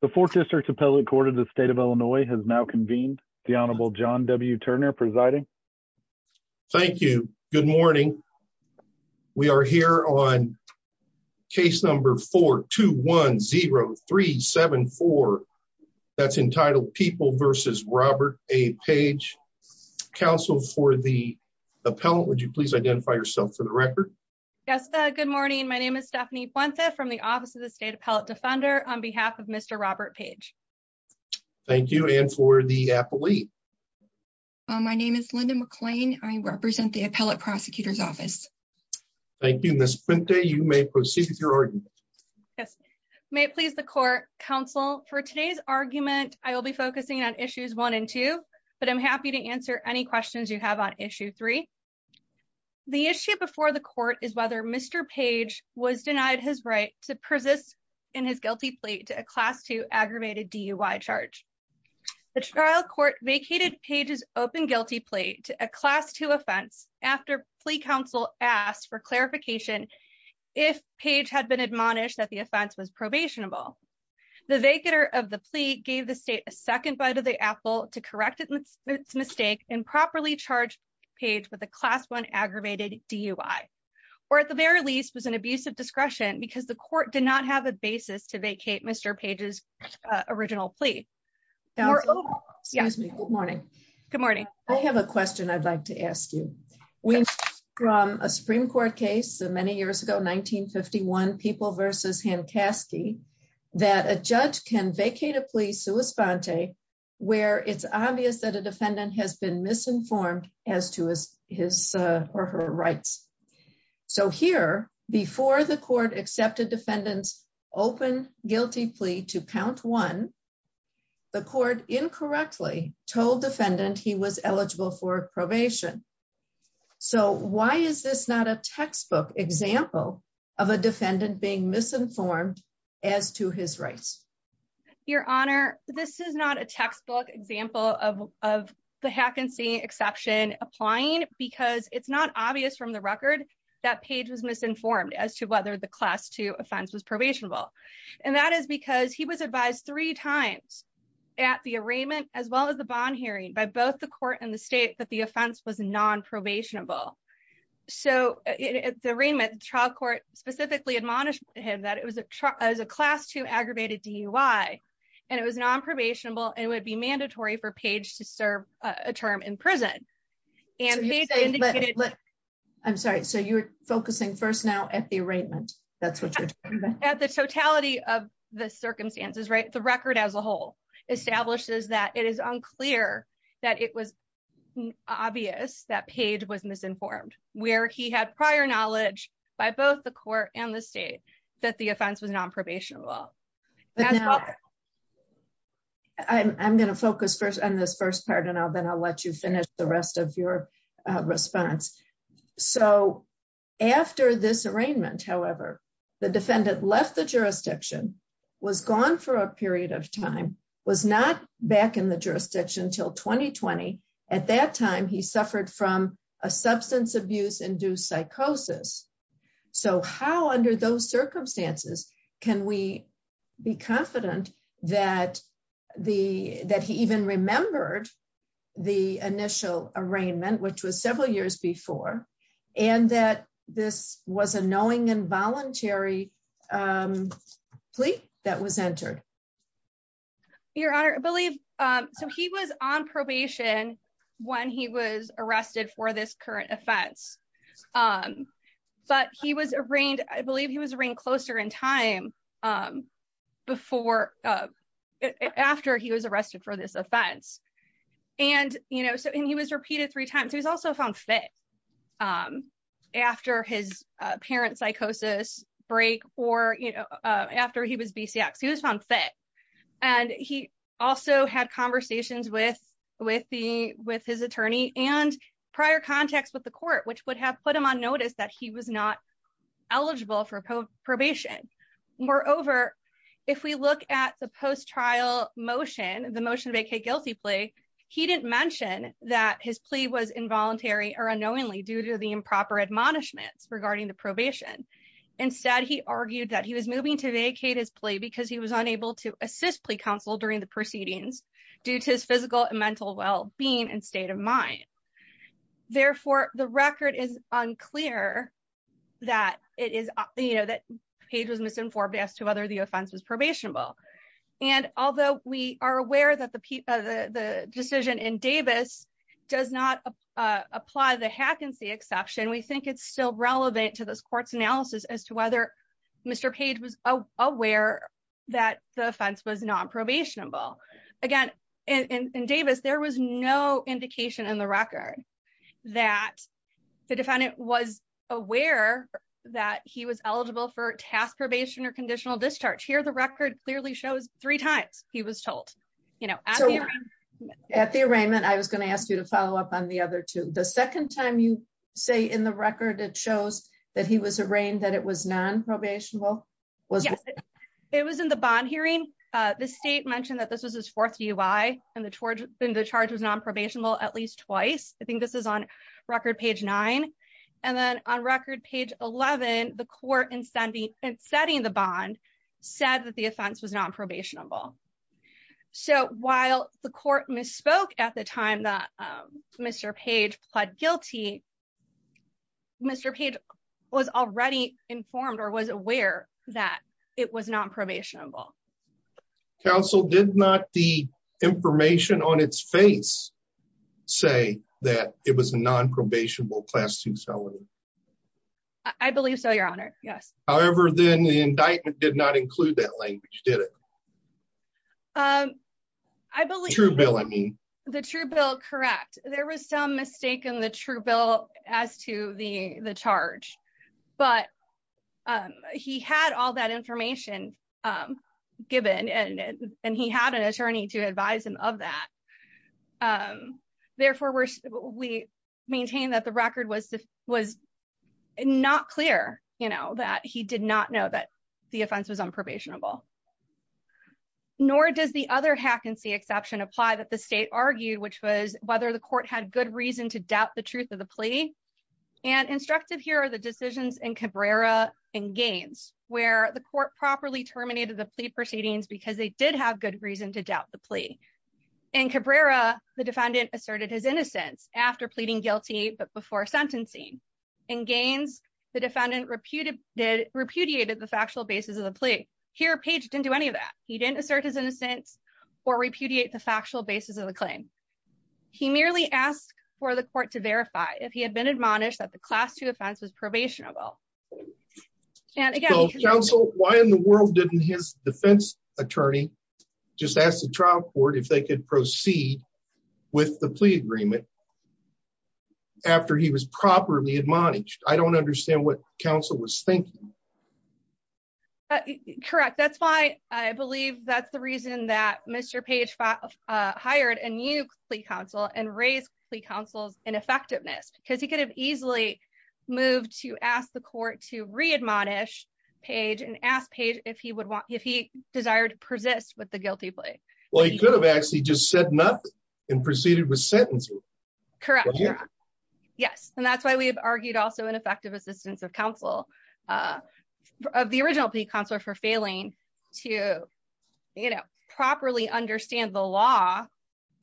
The fourth district appellate court of the state of Illinois has now convened the Honorable John W. Turner presiding. Thank you. Good morning. We are here on case number 4210374. That's entitled people versus Robert A. Page, counsel for the appellant. Would you please identify yourself for the record? Yes. Good morning. My name is Stephanie from the Office of the State Appellate Defender on behalf of Mr. Robert Page. Thank you. And for the appellee. My name is Linda McClain. I represent the appellate prosecutor's office. Thank you, Miss Quinta. You may proceed with your argument. Yes. May please the court counsel for today's argument, I will be focusing on issues one and two, but I'm happy to answer any questions you have on issue three. The issue before the court is whether Mr. Page was denied his right to persist in his guilty plea to a class two aggravated DUI charge. The trial court vacated pages open guilty plea to a class two offense after plea counsel asked for clarification. If page had been admonished that the offense was probationable. The vacator of the plea gave the state a second bite of the apple to correct it. It's mistake and properly charged page with a class one aggravated DUI, or at the very least was an abuse of the court did not have a basis to vacate Mr. pages original plea. Good morning. Good morning. I have a question I'd like to ask you. We from a Supreme Court case many years ago 1951 people versus him Caskey, that a judge can vacate a plea sui sponte, where it's obvious that a defendant has been misinformed as to his or her rights. So here, before the defendant's open guilty plea to count one, the court incorrectly told defendant he was eligible for probation. So why is this not a textbook example of a defendant being misinformed as to his rights? Your Honor, this is not a textbook example of the hack and see exception applying because it's not obvious from the record that page was misinformed as to whether the class to offense was probationable. And that is because he was advised three times at the arraignment as well as the bond hearing by both the court and the state that the offense was non probationable. So it's the arraignment trial court specifically admonished him that it was a truck as a class two aggravated DUI. And it was non probationable and would be mandatory for page to serve a term in prison. And they say, but I'm sorry, so you're focusing first now at the arraignment. That's what you're at the totality of the circumstances, right? The record as a whole establishes that it is unclear that it was obvious that page was misinformed, where he had prior knowledge by both the court and the state that the offense was non probationable. I'm going to focus first on this first part, and I'll then I'll let you this arraignment. However, the defendant left the jurisdiction was gone for a period of time was not back in the jurisdiction until 2020. At that time, he suffered from a substance abuse induced psychosis. So how under those circumstances, can we be confident that the that he was a knowing involuntary plea that was entered? Your Honor, I believe, so he was on probation, when he was arrested for this current offense. But he was arraigned, I believe he was arraigned closer in time before, after he was arrested for this offense. And, you know, so and he was repeated three times, he was also found fit. After his parents psychosis break, or, you know, after he was BCX, he was found fit. And he also had conversations with with the with his attorney and prior contacts with the court, which would have put him on notice that he was not eligible for probation. Moreover, if we look at the post trial motion, the motion to make a guilty plea, he didn't mention that his plea was involuntary or unknowingly due to the improper admonishments regarding the probation. Instead, he argued that he was moving to vacate his plea because he was unable to assist plea counsel during the proceedings due to his physical and mental well being and state of mind. Therefore, the record is unclear that it is, you know, that page was misinformed as to whether the offense was probationable. And although we are aware that the the decision in Davis does not apply the hack and see exception, we think it's still relevant to this court's analysis as to whether Mr. Page was aware that the offense was non probationable. Again, in Davis, there was no indication in the record that the defendant was aware that he was eligible for task probation or conditional discharge here, the record clearly shows three times he was told, you know, at the arraignment, I was going to ask you to follow up on the other two, the second time you say in the record, it shows that he was arraigned that it was non probationable. Well, yes, it was in the bond hearing. The state mentioned that this was his fourth UI and the charge and the charge was non probationable at least twice. I think this is on said that the offense was non probationable. So while the court misspoke at the time that Mr. Page pled guilty, Mr. Page was already informed or was aware that it was non probationable. Council did not the information on its face, say that it was a non probationable class two salary. I believe so, Your Honor. Yes. However, then the indictment did not include that language, did it? Um, I believe true bill, I mean, the true bill, correct. There was some mistake in the true bill as to the the charge. But he had all that information given and, and he had an attorney to advise him of that. Therefore, we maintain that the record was, was not clear, you know, that he did not know that the offense was on probationable. Nor does the other hack and see exception apply that the state argued, which was whether the court had good reason to doubt the truth of the plea. And instructive here are the decisions and Cabrera and gains where the court properly terminated the plea proceedings because they did have good reason to doubt the plea. And Cabrera, the defendant asserted his innocence after pleading guilty, but before sentencing, and gains, the defendant reputed did repudiated the factual basis of the plea. Here page didn't do any of that. He didn't assert his innocence, or repudiate the factual basis of the claim. He merely asked for the court to verify if he had been admonished that the class two offense was probationable. And again, counsel, why in the world didn't his defense attorney, just ask the trial court if they could proceed with the plea agreement. After he was properly admonished, I don't understand what counsel was thinking. Correct. That's why I believe that's the reason that Mr. Page fired and you counsel and raise the counsel's ineffectiveness because he could have easily moved to ask the court to read Monash page and ask page if he would want if he desired to persist with the guilty plea. Well, he could have actually just said nothing and proceeded with sentencing. Correct. Yes. And that's why we've argued also ineffective assistance of counsel of the original plea counselor for failing to, you know, properly understand the law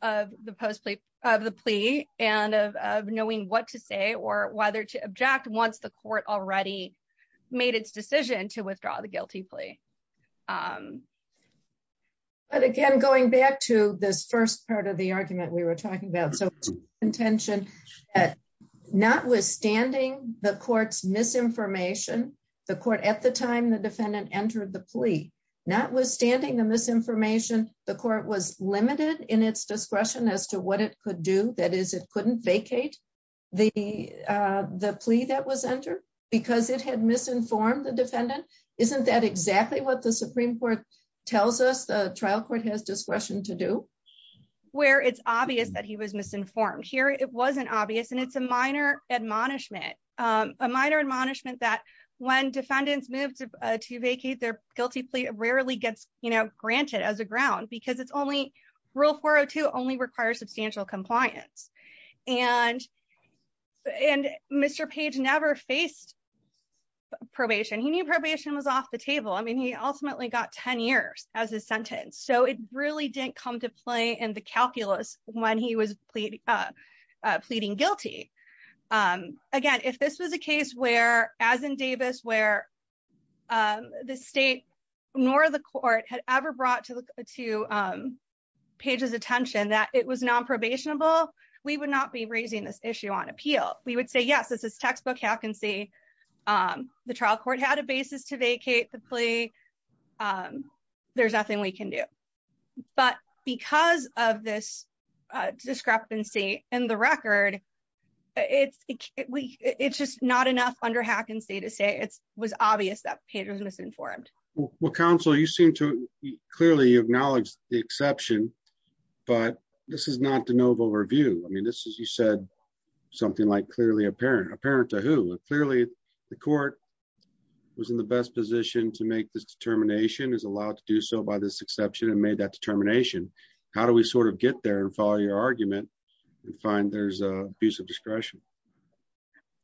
of the post plea of the plea and of knowing what to say or whether to object once the court already made its decision to withdraw the guilty plea. But again, going back to this first part of the argument we were talking about, so intention that notwithstanding the court's misinformation, the court at the time the discretion as to what it could do, that is, it couldn't vacate the plea that was entered because it had misinformed the defendant. Isn't that exactly what the Supreme Court tells us the trial court has discretion to do where it's obvious that he was misinformed here. It wasn't obvious. And it's a minor admonishment, a minor admonishment that when defendants moved to vacate their guilty plea rarely gets granted as a ground because it's only rule 402 only requires substantial compliance and and Mr. Page never faced probation. He knew probation was off the table. I mean, he ultimately got 10 years as a sentence. So it really didn't come to play in the calculus when he was pleading guilty. Again, if this was a case where as in Davis where the state nor the court had ever brought to pages attention that it was non probationable, we would not be raising this issue on appeal, we would say yes, this is textbook how can see the trial court had a basis to vacate the plea. There's nothing we can do. But because of this discrepancy in the record, it's, it's just not enough under hack and say to say it's was obvious that page was misinformed. Well, counsel, you seem to clearly acknowledge the exception. But this is not the noble review. I mean, this is you said something like clearly apparent apparent to who clearly, the court was in the best position to make this determination is allowed to do so by this exception and made that determination. How do we sort of get there and follow your argument and find there's a piece of discretion,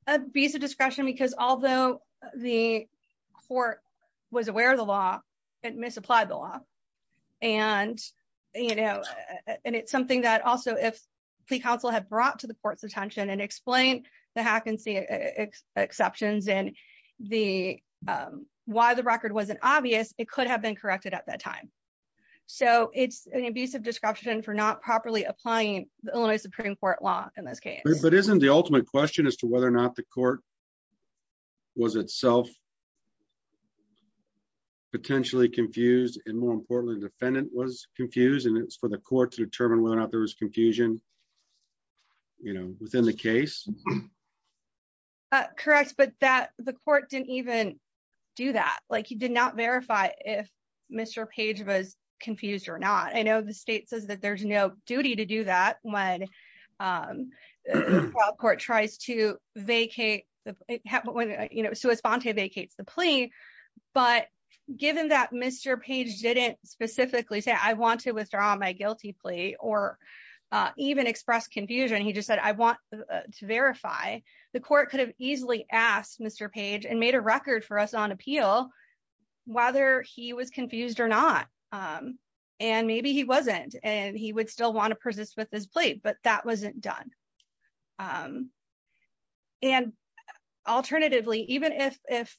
a piece of discretion, because although the court was aware of the law, it misapplied the law. And, you know, and it's something that also if the council had brought to the court's attention and explain the hack and see exceptions and the why the record wasn't obvious, it could have been corrected at that time. So it's an abusive description for not properly applying the Supreme Court law in this case. But isn't the ultimate question as to whether or not the court was itself potentially confused, and more importantly, defendant was confused, and it's for the court to determine whether or not there was confusion. You know, within the case. Correct, but that the court didn't even do that, like he did not verify if Mr. page was confused or not. I know the state says that there's no duty to do that when the court tries to vacate when you know, so as Fonte vacates the plea. But given that Mr. page didn't specifically say I want to withdraw my guilty plea or even express confusion, he just said I want to verify the court could have easily asked Mr. page and made a record for us on appeal, whether he was confused or not. And maybe he wasn't, and he would still want to persist with this plea, but that wasn't done. And alternatively, even if if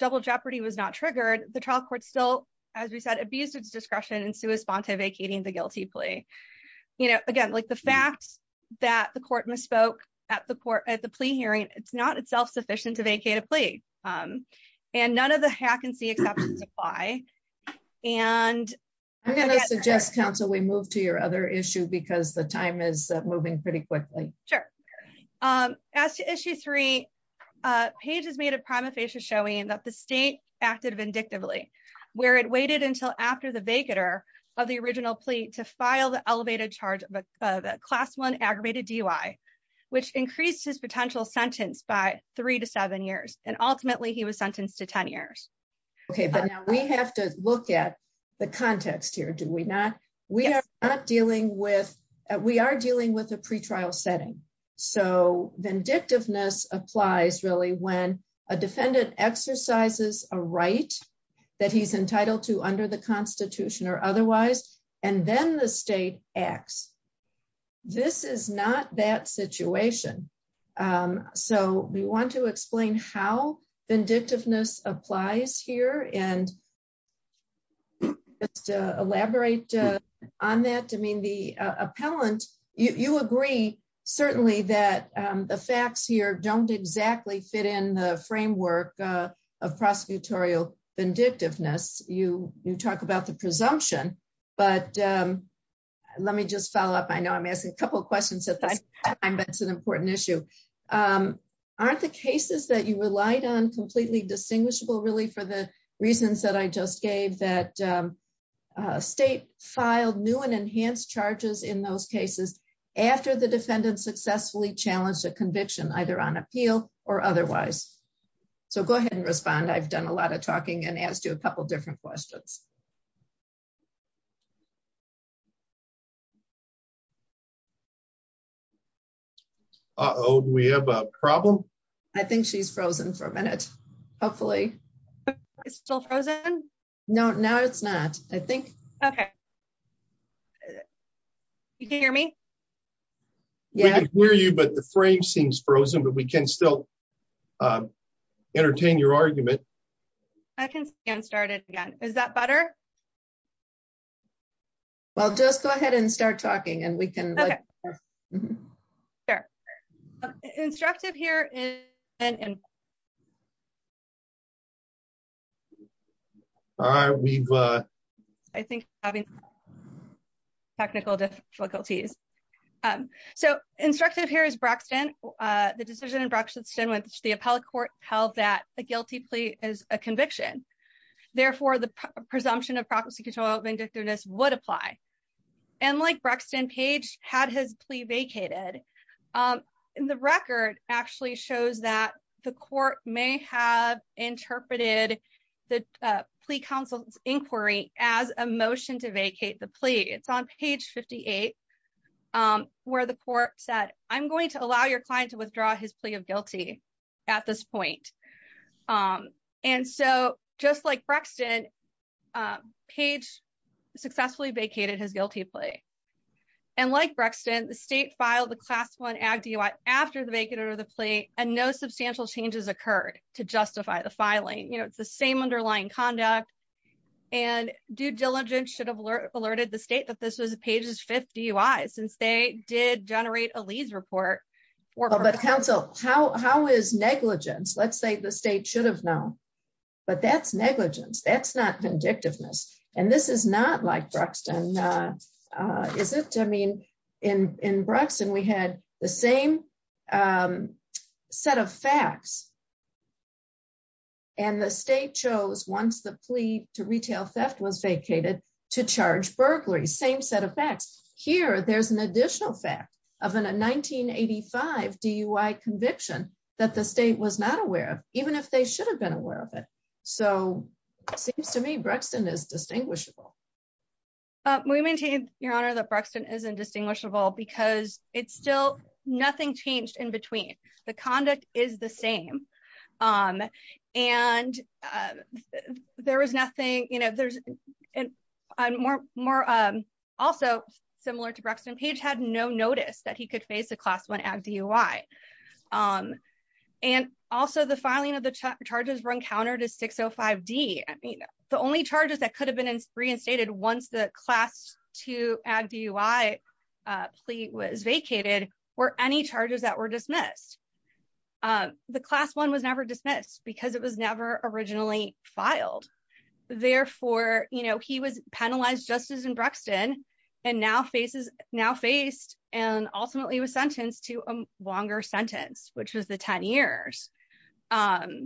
double jeopardy was not triggered, the trial court still, as we said, abused its discretion and Sue is Fonte vacating the guilty plea. You know, again, like the facts that the court misspoke at the court at the plea hearing, it's not itself sufficient to buy. And I'm going to suggest Council we move to your other issue because the time is moving pretty quickly. Sure. As to issue three, pages made a prima facie showing that the state acted vindictively, where it waited until after the vacator of the original plea to file the elevated charge of a class one aggravated DUI, which increased his potential sentence by three to Okay, but now we have to look at the context here, do we not, we are not dealing with, we are dealing with a pretrial setting. So vindictiveness applies really when a defendant exercises a right that he's entitled to under the Constitution or otherwise, and then the state acts. This is not that situation. So we want to explain how vindictiveness applies here and just elaborate on that. I mean, the appellant, you agree, certainly that the facts here don't exactly fit in the framework of prosecutorial vindictiveness, you you talk about the presumption, but let me just follow up. I know I'm asking a couple of questions at this time, but it's an important issue. Aren't the cases that you relied on completely distinguishable, really, for the reasons that I just gave that state filed new and enhanced charges in those cases, after the defendant successfully challenged a conviction either on appeal or otherwise. So go ahead and respond. I've done a lot of talking and asked you a couple different questions. Uh oh, we have a problem. I think she's frozen for a minute. Hopefully, it's still frozen. No, no, it's not. I think. Okay. You can hear me. Yeah, we're you but the frame seems frozen, but we can still entertain your argument. I can get started again. Is that better? Well, just go ahead and start talking and we can. Sure, instructive here. All right, we've, I think, having technical difficulties. So instructive here is Braxton. The decision in Braxton with the appellate court held that a guilty plea is a conviction. Therefore, the presumption of proxy control vindictiveness would apply. And like Braxton Page had his plea vacated, the record actually shows that the court may have interpreted the plea counsel's inquiry as a motion to vacate the plea. It's on page 58, where the court said, I'm going to allow your client to withdraw his plea of guilty at this point. And so just like Braxton, page successfully vacated his guilty plea. And like Braxton, the state filed the class one ad DUI after the vacate or the plea and no substantial changes occurred to justify the filing, you know, it's the same underlying conduct. And due diligence should have alerted the state that this was a page is 50 since they did generate a lease report. But counsel, how is negligence? Let's say the state should have known. But that's negligence. That's not vindictiveness. And this is not like Braxton. Is it I mean, in in Braxton, we had the same set of facts. And the state chose once the there's an additional fact of an a 1985 DUI conviction that the state was not aware of, even if they should have been aware of it. So it seems to me Braxton is distinguishable. We maintain your honor that Braxton is indistinguishable because it's still nothing changed in between the conduct is the same. And there was nothing you know, there's more more. Also, similar to Braxton page had no notice that he could face a class one ad DUI. And also the filing of the charges were encountered as 605 D. I mean, the only charges that could have been reinstated once the class to add DUI plea was vacated, or any charges that were dismissed. The class one was never dismissed because it was never originally filed. Therefore, you know, he was penalized justice in Braxton, and now faces now faced and ultimately was sentenced to a longer sentence, which was the 10 years. So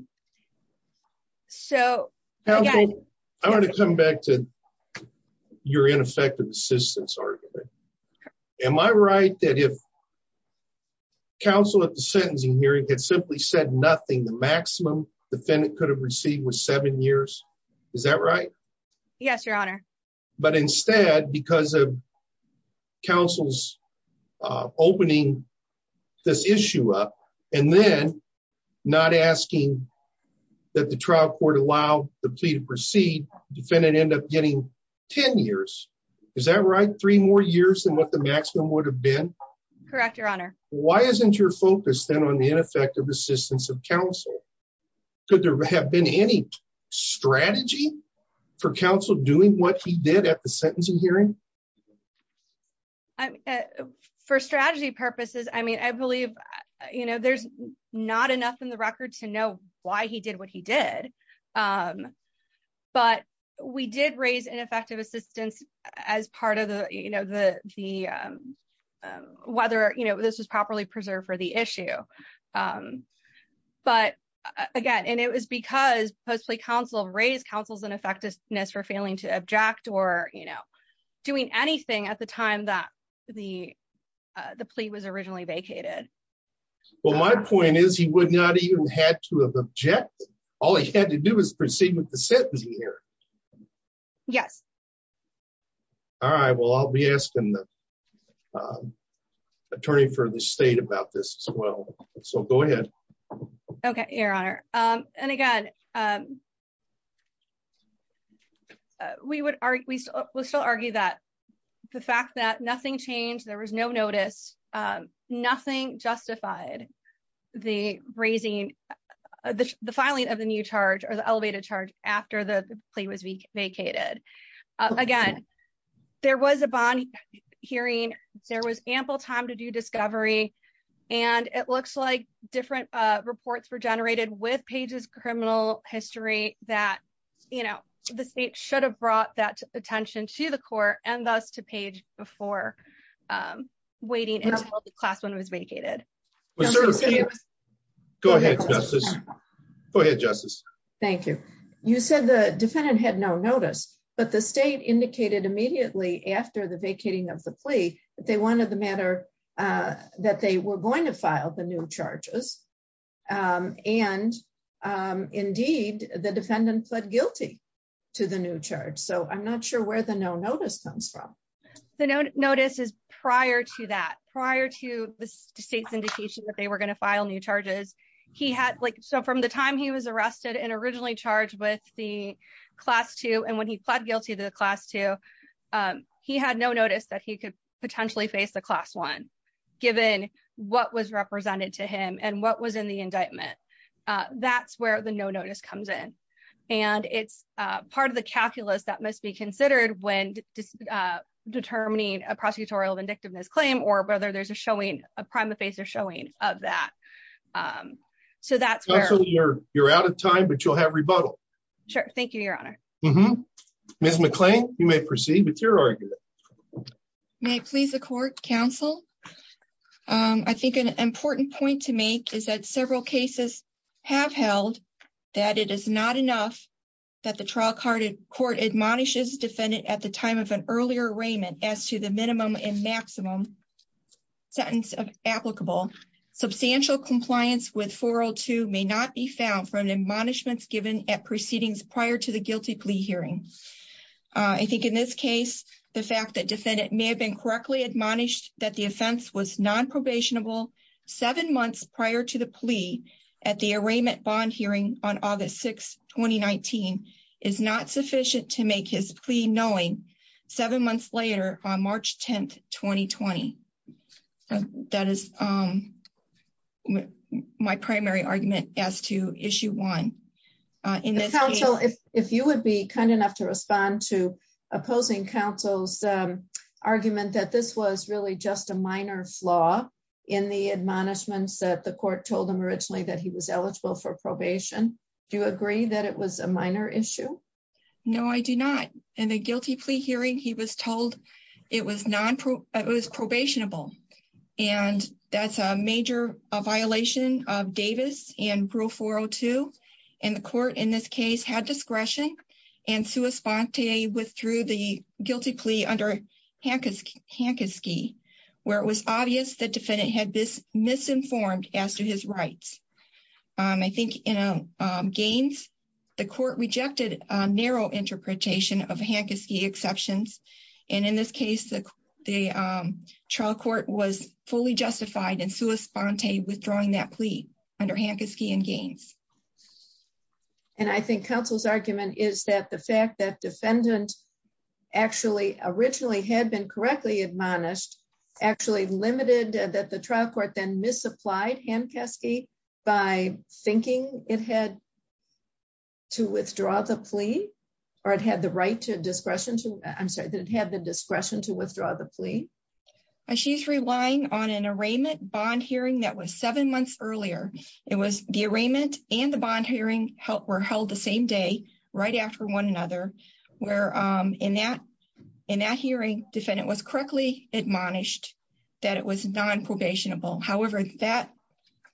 I want to come back to your ineffective assistance. Am I right that if counsel at the sentencing hearing had simply said nothing, the maximum defendant could have received was seven years? Is that right? Yes, Your Honor. But instead, because of counsel's opening this issue up, and then not asking that the trial court allow the plea to proceed defendant end up getting 10 years. Is that right? Three more years than what the maximum would have been? Correct, Your Honor. Why isn't your focus then on the ineffective assistance of counsel? Could there have been any strategy for counsel doing what he did at the sentencing hearing? I'm for strategy purposes. I mean, I believe, you know, there's not enough in the record to know why he did what he did. But we did raise ineffective assistance as part of the you know, the weather, you know, this was properly preserved for the issue. But, again, and it was because post plea counsel raised counsel's ineffectiveness for failing to object or, you know, doing anything at the time that the plea was originally vacated. Well, my point is he would not even had to have objected. All he had to do is proceed with the the attorney for the state about this as well. So go ahead. Okay, Your Honor. And again, we would argue that the fact that nothing changed, there was no notice, nothing justified the raising the filing of the new charge or the elevated charge after the plea was vacated. Again, there was a bond hearing, there was ample time to do discovery. And it looks like different reports were generated with pages criminal history that, you know, the state should have brought that attention to the court and thus to page before waiting in class when it was vacated. Go ahead, Justice. Go ahead, Justice. Thank you. You said the defendant had no notice, but the state indicated immediately after the vacating of the plea that they wanted the matter that they were going to file the new charges. And indeed, the defendant pled guilty to the new charge. So I'm not sure where the no notice comes from. The notice is prior to that prior to the state's indication that they were going to file new charges. He had like, so from the time he was arrested and originally charged with the class two, and when he pled guilty to the class two, he had no notice that he could potentially face the class one, given what was represented to him and what was in the indictment. That's where the no notice comes in. And it's part of the calculus that must be considered when determining a prosecutorial vindictiveness claim or whether there's a showing a prima facie showing of that. So that's where you're out of time, but you'll have rebuttal. Sure. Thank you, Your Honor. Ms. McClain, you may proceed with your argument. May please the court counsel. I think an important point to make is that several cases have held that it is not enough that the trial court admonishes defendant at the time of an earlier arraignment as to the minimum and maximum sentence applicable. Substantial compliance with 402 may not be found from admonishments given at proceedings prior to the guilty plea hearing. I think in this case, the fact that defendant may have been correctly admonished that the offense was nonprobationable seven months prior to the plea at the arraignment bond hearing on August 6, 2019 is not sufficient to make his plea knowing seven months later on March 10, 2020. That is my primary argument as to issue one. If you would be kind enough to respond to opposing counsel's argument that this was really just a minor flaw in the admonishments that the court told him originally that he was in the guilty plea hearing, he was told it was nonprobationable and that's a major violation of Davis and rule 402. And the court in this case had discretion and sua sponte withdrew the guilty plea under Hankiski, where it was obvious that defendant had this misinformed as to his rights. I think in Gaines, the court rejected a narrow interpretation of Hankiski exceptions. And in this case, the trial court was fully justified in sua sponte withdrawing that plea under Hankiski and Gaines. And I think counsel's argument is that the fact that defendant actually originally had been correctly admonished actually limited that the trial court then supplied Hankiski by thinking it had to withdraw the plea or it had the right to discretion to, I'm sorry, that it had the discretion to withdraw the plea. She's relying on an arraignment bond hearing that was seven months earlier. It was the arraignment and the bond hearing were held the same day right after one another, where in that hearing defendant was correctly admonished that it was non-probationable. However, that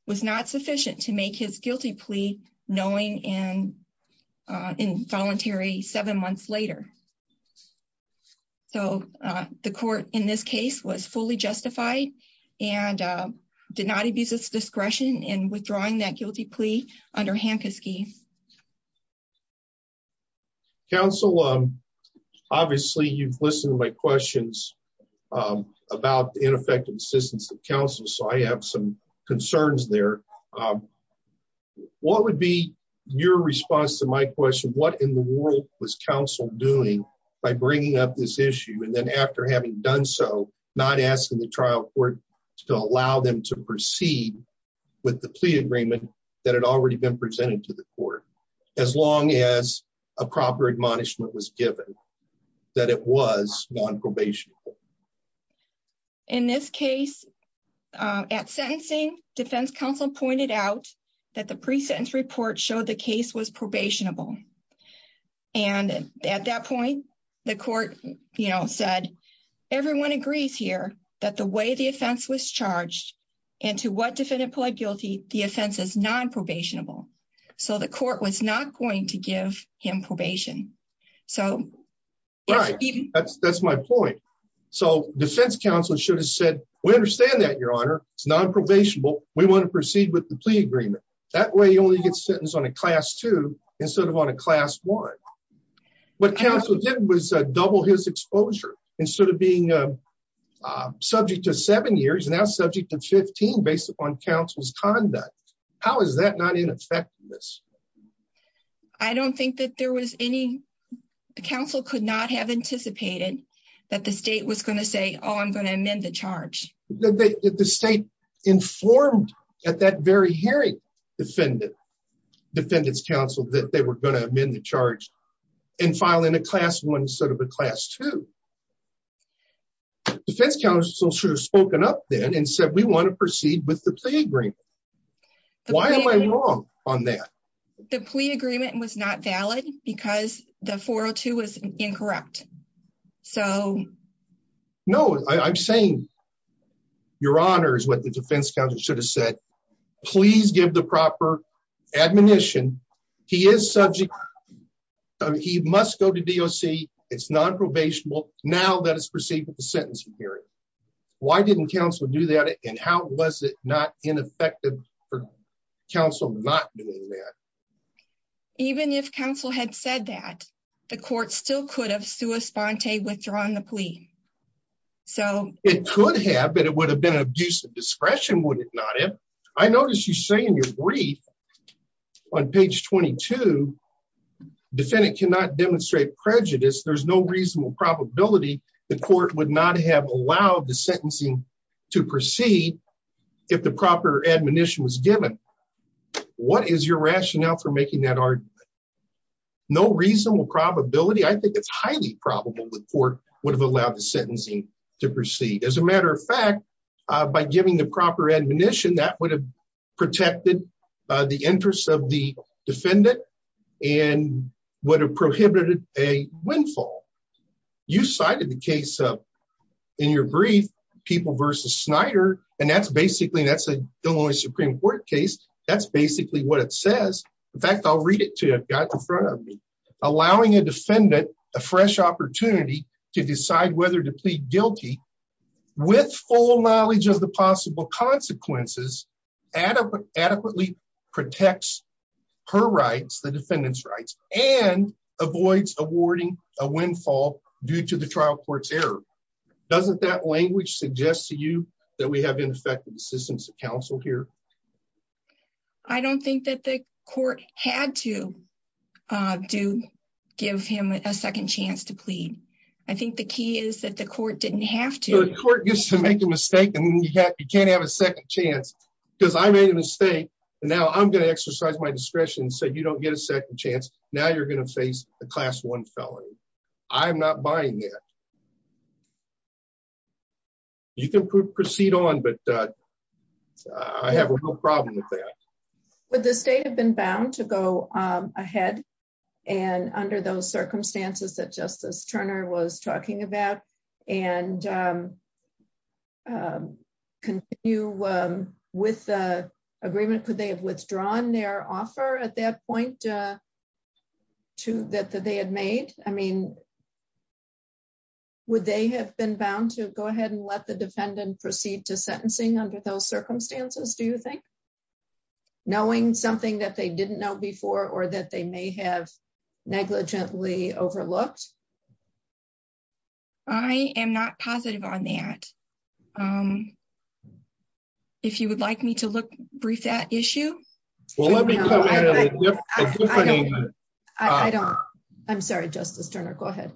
was not sufficient to make his guilty plea knowing and involuntary seven months later. So the court in this case was fully justified and did not abuse its discretion in withdrawing that guilty plea under Hankiski. Counsel, obviously you've listened to my questions about the ineffective assistance of counsel. So I have some concerns there. What would be your response to my question? What in the world was counsel doing by bringing up this issue and then after having done so, not asking the trial court to allow them to proceed with the plea agreement that had already been presented to the court, as long as a proper admonishment was given that it was non-probation? In this case, at sentencing, defense counsel pointed out that the pre-sentence report showed the case was probationable. And at that point, the court, you know, said everyone agrees here that the way the offense was charged and to what defendant pled guilty, the offense is non-probationable. So the court was not going to give him probation. So... Right, that's my point. So defense counsel should have said, we understand that your honor, it's non-probationable. We want to proceed with the plea agreement. That way you only get sentenced on a class two instead of on a class one. What counsel did was double his exposure instead of being subject to seven years, now subject to 15 based upon counsel's conduct. How is that not ineffectiveness? I don't think that there was any... Counsel could not have anticipated that the state was going to say, oh, I'm going to amend the charge. The state informed at that very hearing defendant's counsel that they were going to amend the charge and file in a class one instead of a class two. Defense counsel should have spoken up then and said, we want to proceed with the plea agreement. Why am I wrong on that? The plea agreement was not valid because the 402 was incorrect. So... No, I'm saying your honor is what the defense counsel should have said. Please give the proper admonition. He is subject. He must go to DOC. It's non-probationable. Now that it's proceeding with the sentencing hearing. Why didn't counsel do that? And how was it not ineffective for counsel not doing that? Even if counsel had said that, the court still could have sua sponte withdrawn the plea. So... It could have, but it would have been an abuse of I noticed you say in your brief on page 22, defendant cannot demonstrate prejudice. There's no reasonable probability the court would not have allowed the sentencing to proceed if the proper admonition was given. What is your rationale for making that argument? No reasonable probability. I think it's highly probable the court would have allowed the protected the interest of the defendant and would have prohibited a windfall. You cited the case of in your brief, people versus Snyder. And that's basically, that's a Illinois Supreme Court case. That's basically what it says. In fact, I'll read it to you. I've got it in front of me. Allowing a defendant a fresh opportunity to decide whether to plead guilty with full knowledge of the possible consequences adequately protects her rights, the defendant's rights, and avoids awarding a windfall due to the trial court's error. Doesn't that language suggest to you that we have ineffective assistance of counsel here? I don't think that the court had to give him a second chance to plead. I think the key is that the court didn't have to. The court used to make a mistake and you can't have a second chance because I made a mistake. Now I'm going to exercise my discretion so you don't get a second chance. Now you're going to face a class one felony. I'm not buying that. You can proceed on, but I have a real problem with that. Would the state have been bound to go ahead and under those circumstances that Justice Turner was talking about and continue with the agreement? Could they have withdrawn their offer at that point that they had made? I mean, would they have been bound to go ahead and let the defendant proceed to sentencing under those circumstances, do you think? Knowing something that they didn't know before or that they may have negligently overlooked? I am not positive on that. If you would like me to look brief that issue? Well, let me come in. I'm sorry, Justice Turner, go ahead.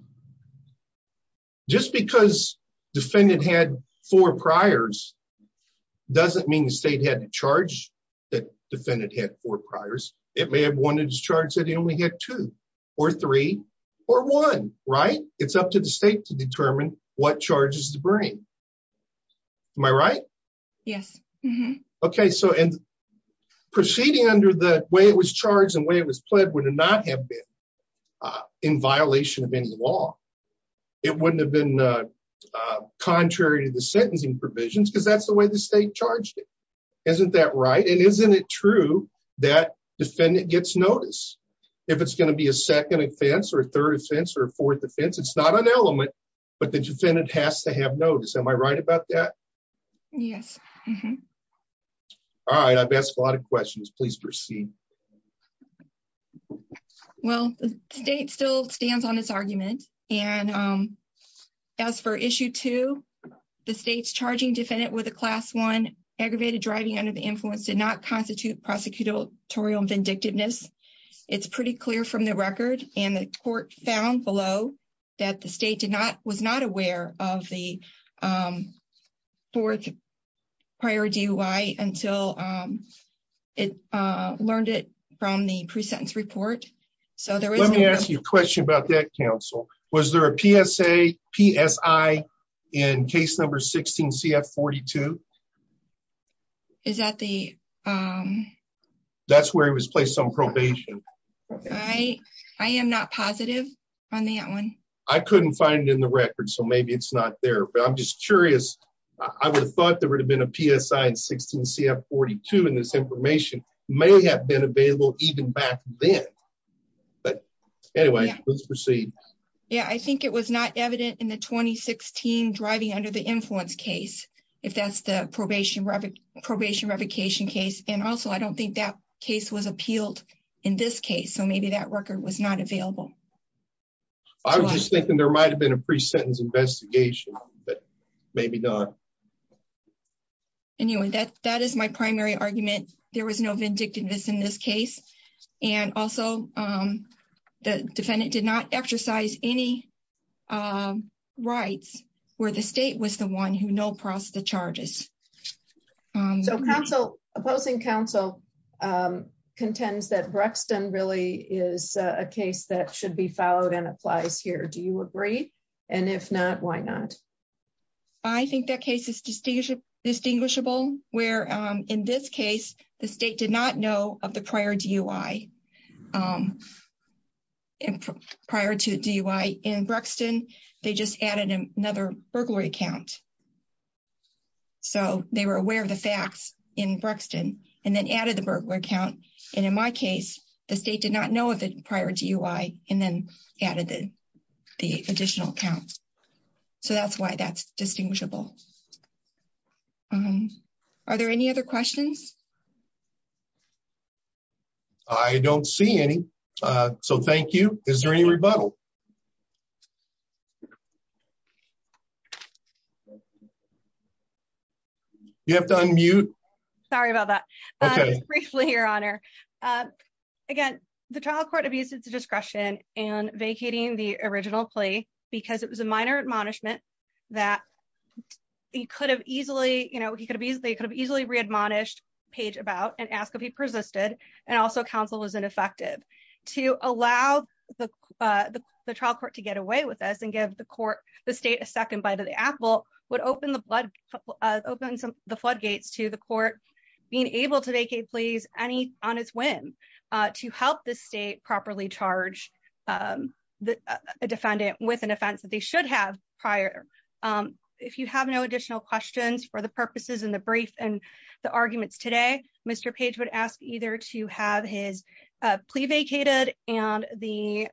Just because the defendant had four priors doesn't mean the state had to charge that defendant had four priors. It may have wanted to charge that he only had two or three or one, right? It's up to the state to determine what charges to bring. Am I right? Yes. Okay. Proceeding under the way it was charged and the way it was pled would not have been in violation of any law. It wouldn't have been contrary to the sentencing provisions because that's the way the state charged it. Isn't that right? Isn't it true that defendant gets notice if it's going to be a second offense or a third offense or a fourth offense? It's not an element, but the defendant has to have notice. Am I right about that? Yes. All right. I've asked a lot of questions. Please proceed. Well, the state still stands on its argument. And as for issue two, the state's charging defendant with a class one aggravated driving under the influence did not constitute prosecutorial vindictiveness. It's pretty clear from the record and the court found below that the state did not aware of the fourth prior DUI until it learned it from the pre-sentence report. Let me ask you a question about that, counsel. Was there a PSA, PSI in case number 16 CF42? Is that the... That's where he was placed on probation. I am not positive on that one. I couldn't find it in the record, so maybe it's not there, but I'm just curious. I would have thought there would have been a PSI in 16 CF42 and this information may have been available even back then. But anyway, let's proceed. Yeah. I think it was not evident in the 2016 driving under the influence case, if that's the probation revocation case. And also I don't think that case was appealed in this case, so maybe that record was not available. I was just thinking there might've been a pre-sentence investigation, but maybe not. Anyway, that is my primary argument. There was no vindictiveness in this case. And also the defendant did not exercise any rights where the state was the one who no processed the charges. So opposing counsel contends that Brexton really is a case that should be followed and applies here. Do you agree? And if not, why not? I think that case is distinguishable where in this case, the state did not know of the prior DUI. And prior to DUI in Brexton, they just added another burglary account. So they were aware of the facts in Brexton and then added the burglary account. And in my case, the state did not know of the prior DUI and then added the additional accounts. So that's why that's distinguishable. Are there any other questions? I don't see any. So thank you. Is there any rebuttal? You have to unmute. Sorry about that. Briefly, your honor. Again, the trial court abused its discretion in vacating the original plea because it was a minor admonishment that he could have easily, they could have easily read monished page about and ask if he persisted. And also counsel was ineffective to allow the trial court to get away with us and give the court, the state a second bite of the apple would open the floodgates to the court, being able to vacate pleas any on its whim to help the state properly charge the defendant with an offense that they should have prior. If you have no additional questions for the purposes and the brief and the arguments today, Mr. Page would ask either to have his plea vacated and the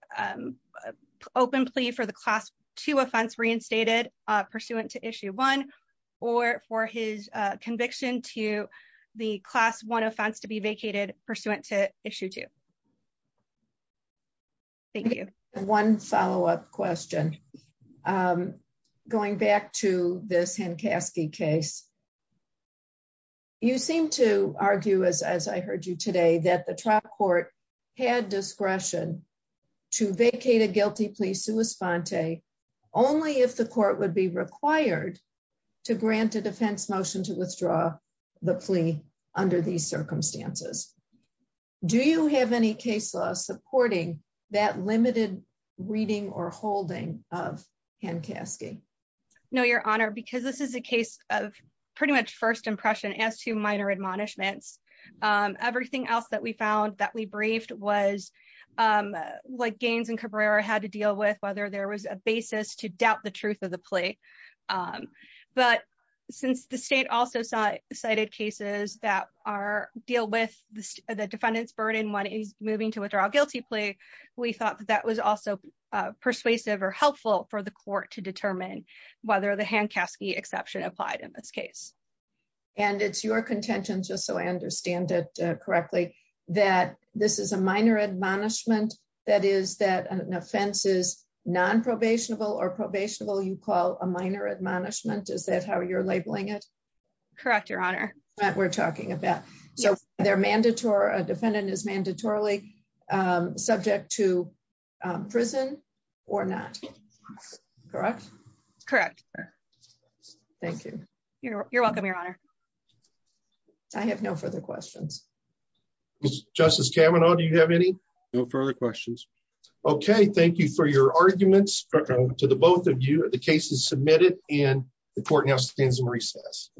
open plea for the class two offense reinstated pursuant to issue one or for his conviction to the class one offense to be vacated pursuant to issue two. Thank you. One follow-up question. Going back to this hand Caskey case, you seem to argue as, as I heard you today, that the trial court had discretion to vacate a guilty plea sui sponte only if the court would be required to grant a defense motion to withdraw the plea under these circumstances. Do you have any case law supporting that limited reading or holding of hand Caskey? No, your honor, because this is a case of pretty much first impression as to minor admonishments. Everything else that we found that we briefed was like Gaines and Cabrera had to deal with whether there was a basis to doubt the truth of the plea. But since the state also cited cases that are deal with the defendant's burden, one is moving to withdraw guilty plea. We thought that that was also persuasive or helpful for the court to determine whether the hand Caskey exception applied in this case. And it's your contention just so I understand it correctly, that this is a minor admonishment. That is that an offense is non probationable or probationable. You call a minor admonishment. Is that how you're labeling it? Correct. Your honor that we're talking about. So they're mandatory. A defendant is mandatorily subject to prison or not. Correct. Correct. Thank you. You're welcome. Your honor. I have no further questions. Justice Cameron, do you have any further questions? Okay, thank you for your arguments to the both of you. The case is submitted and the court now stands in recess.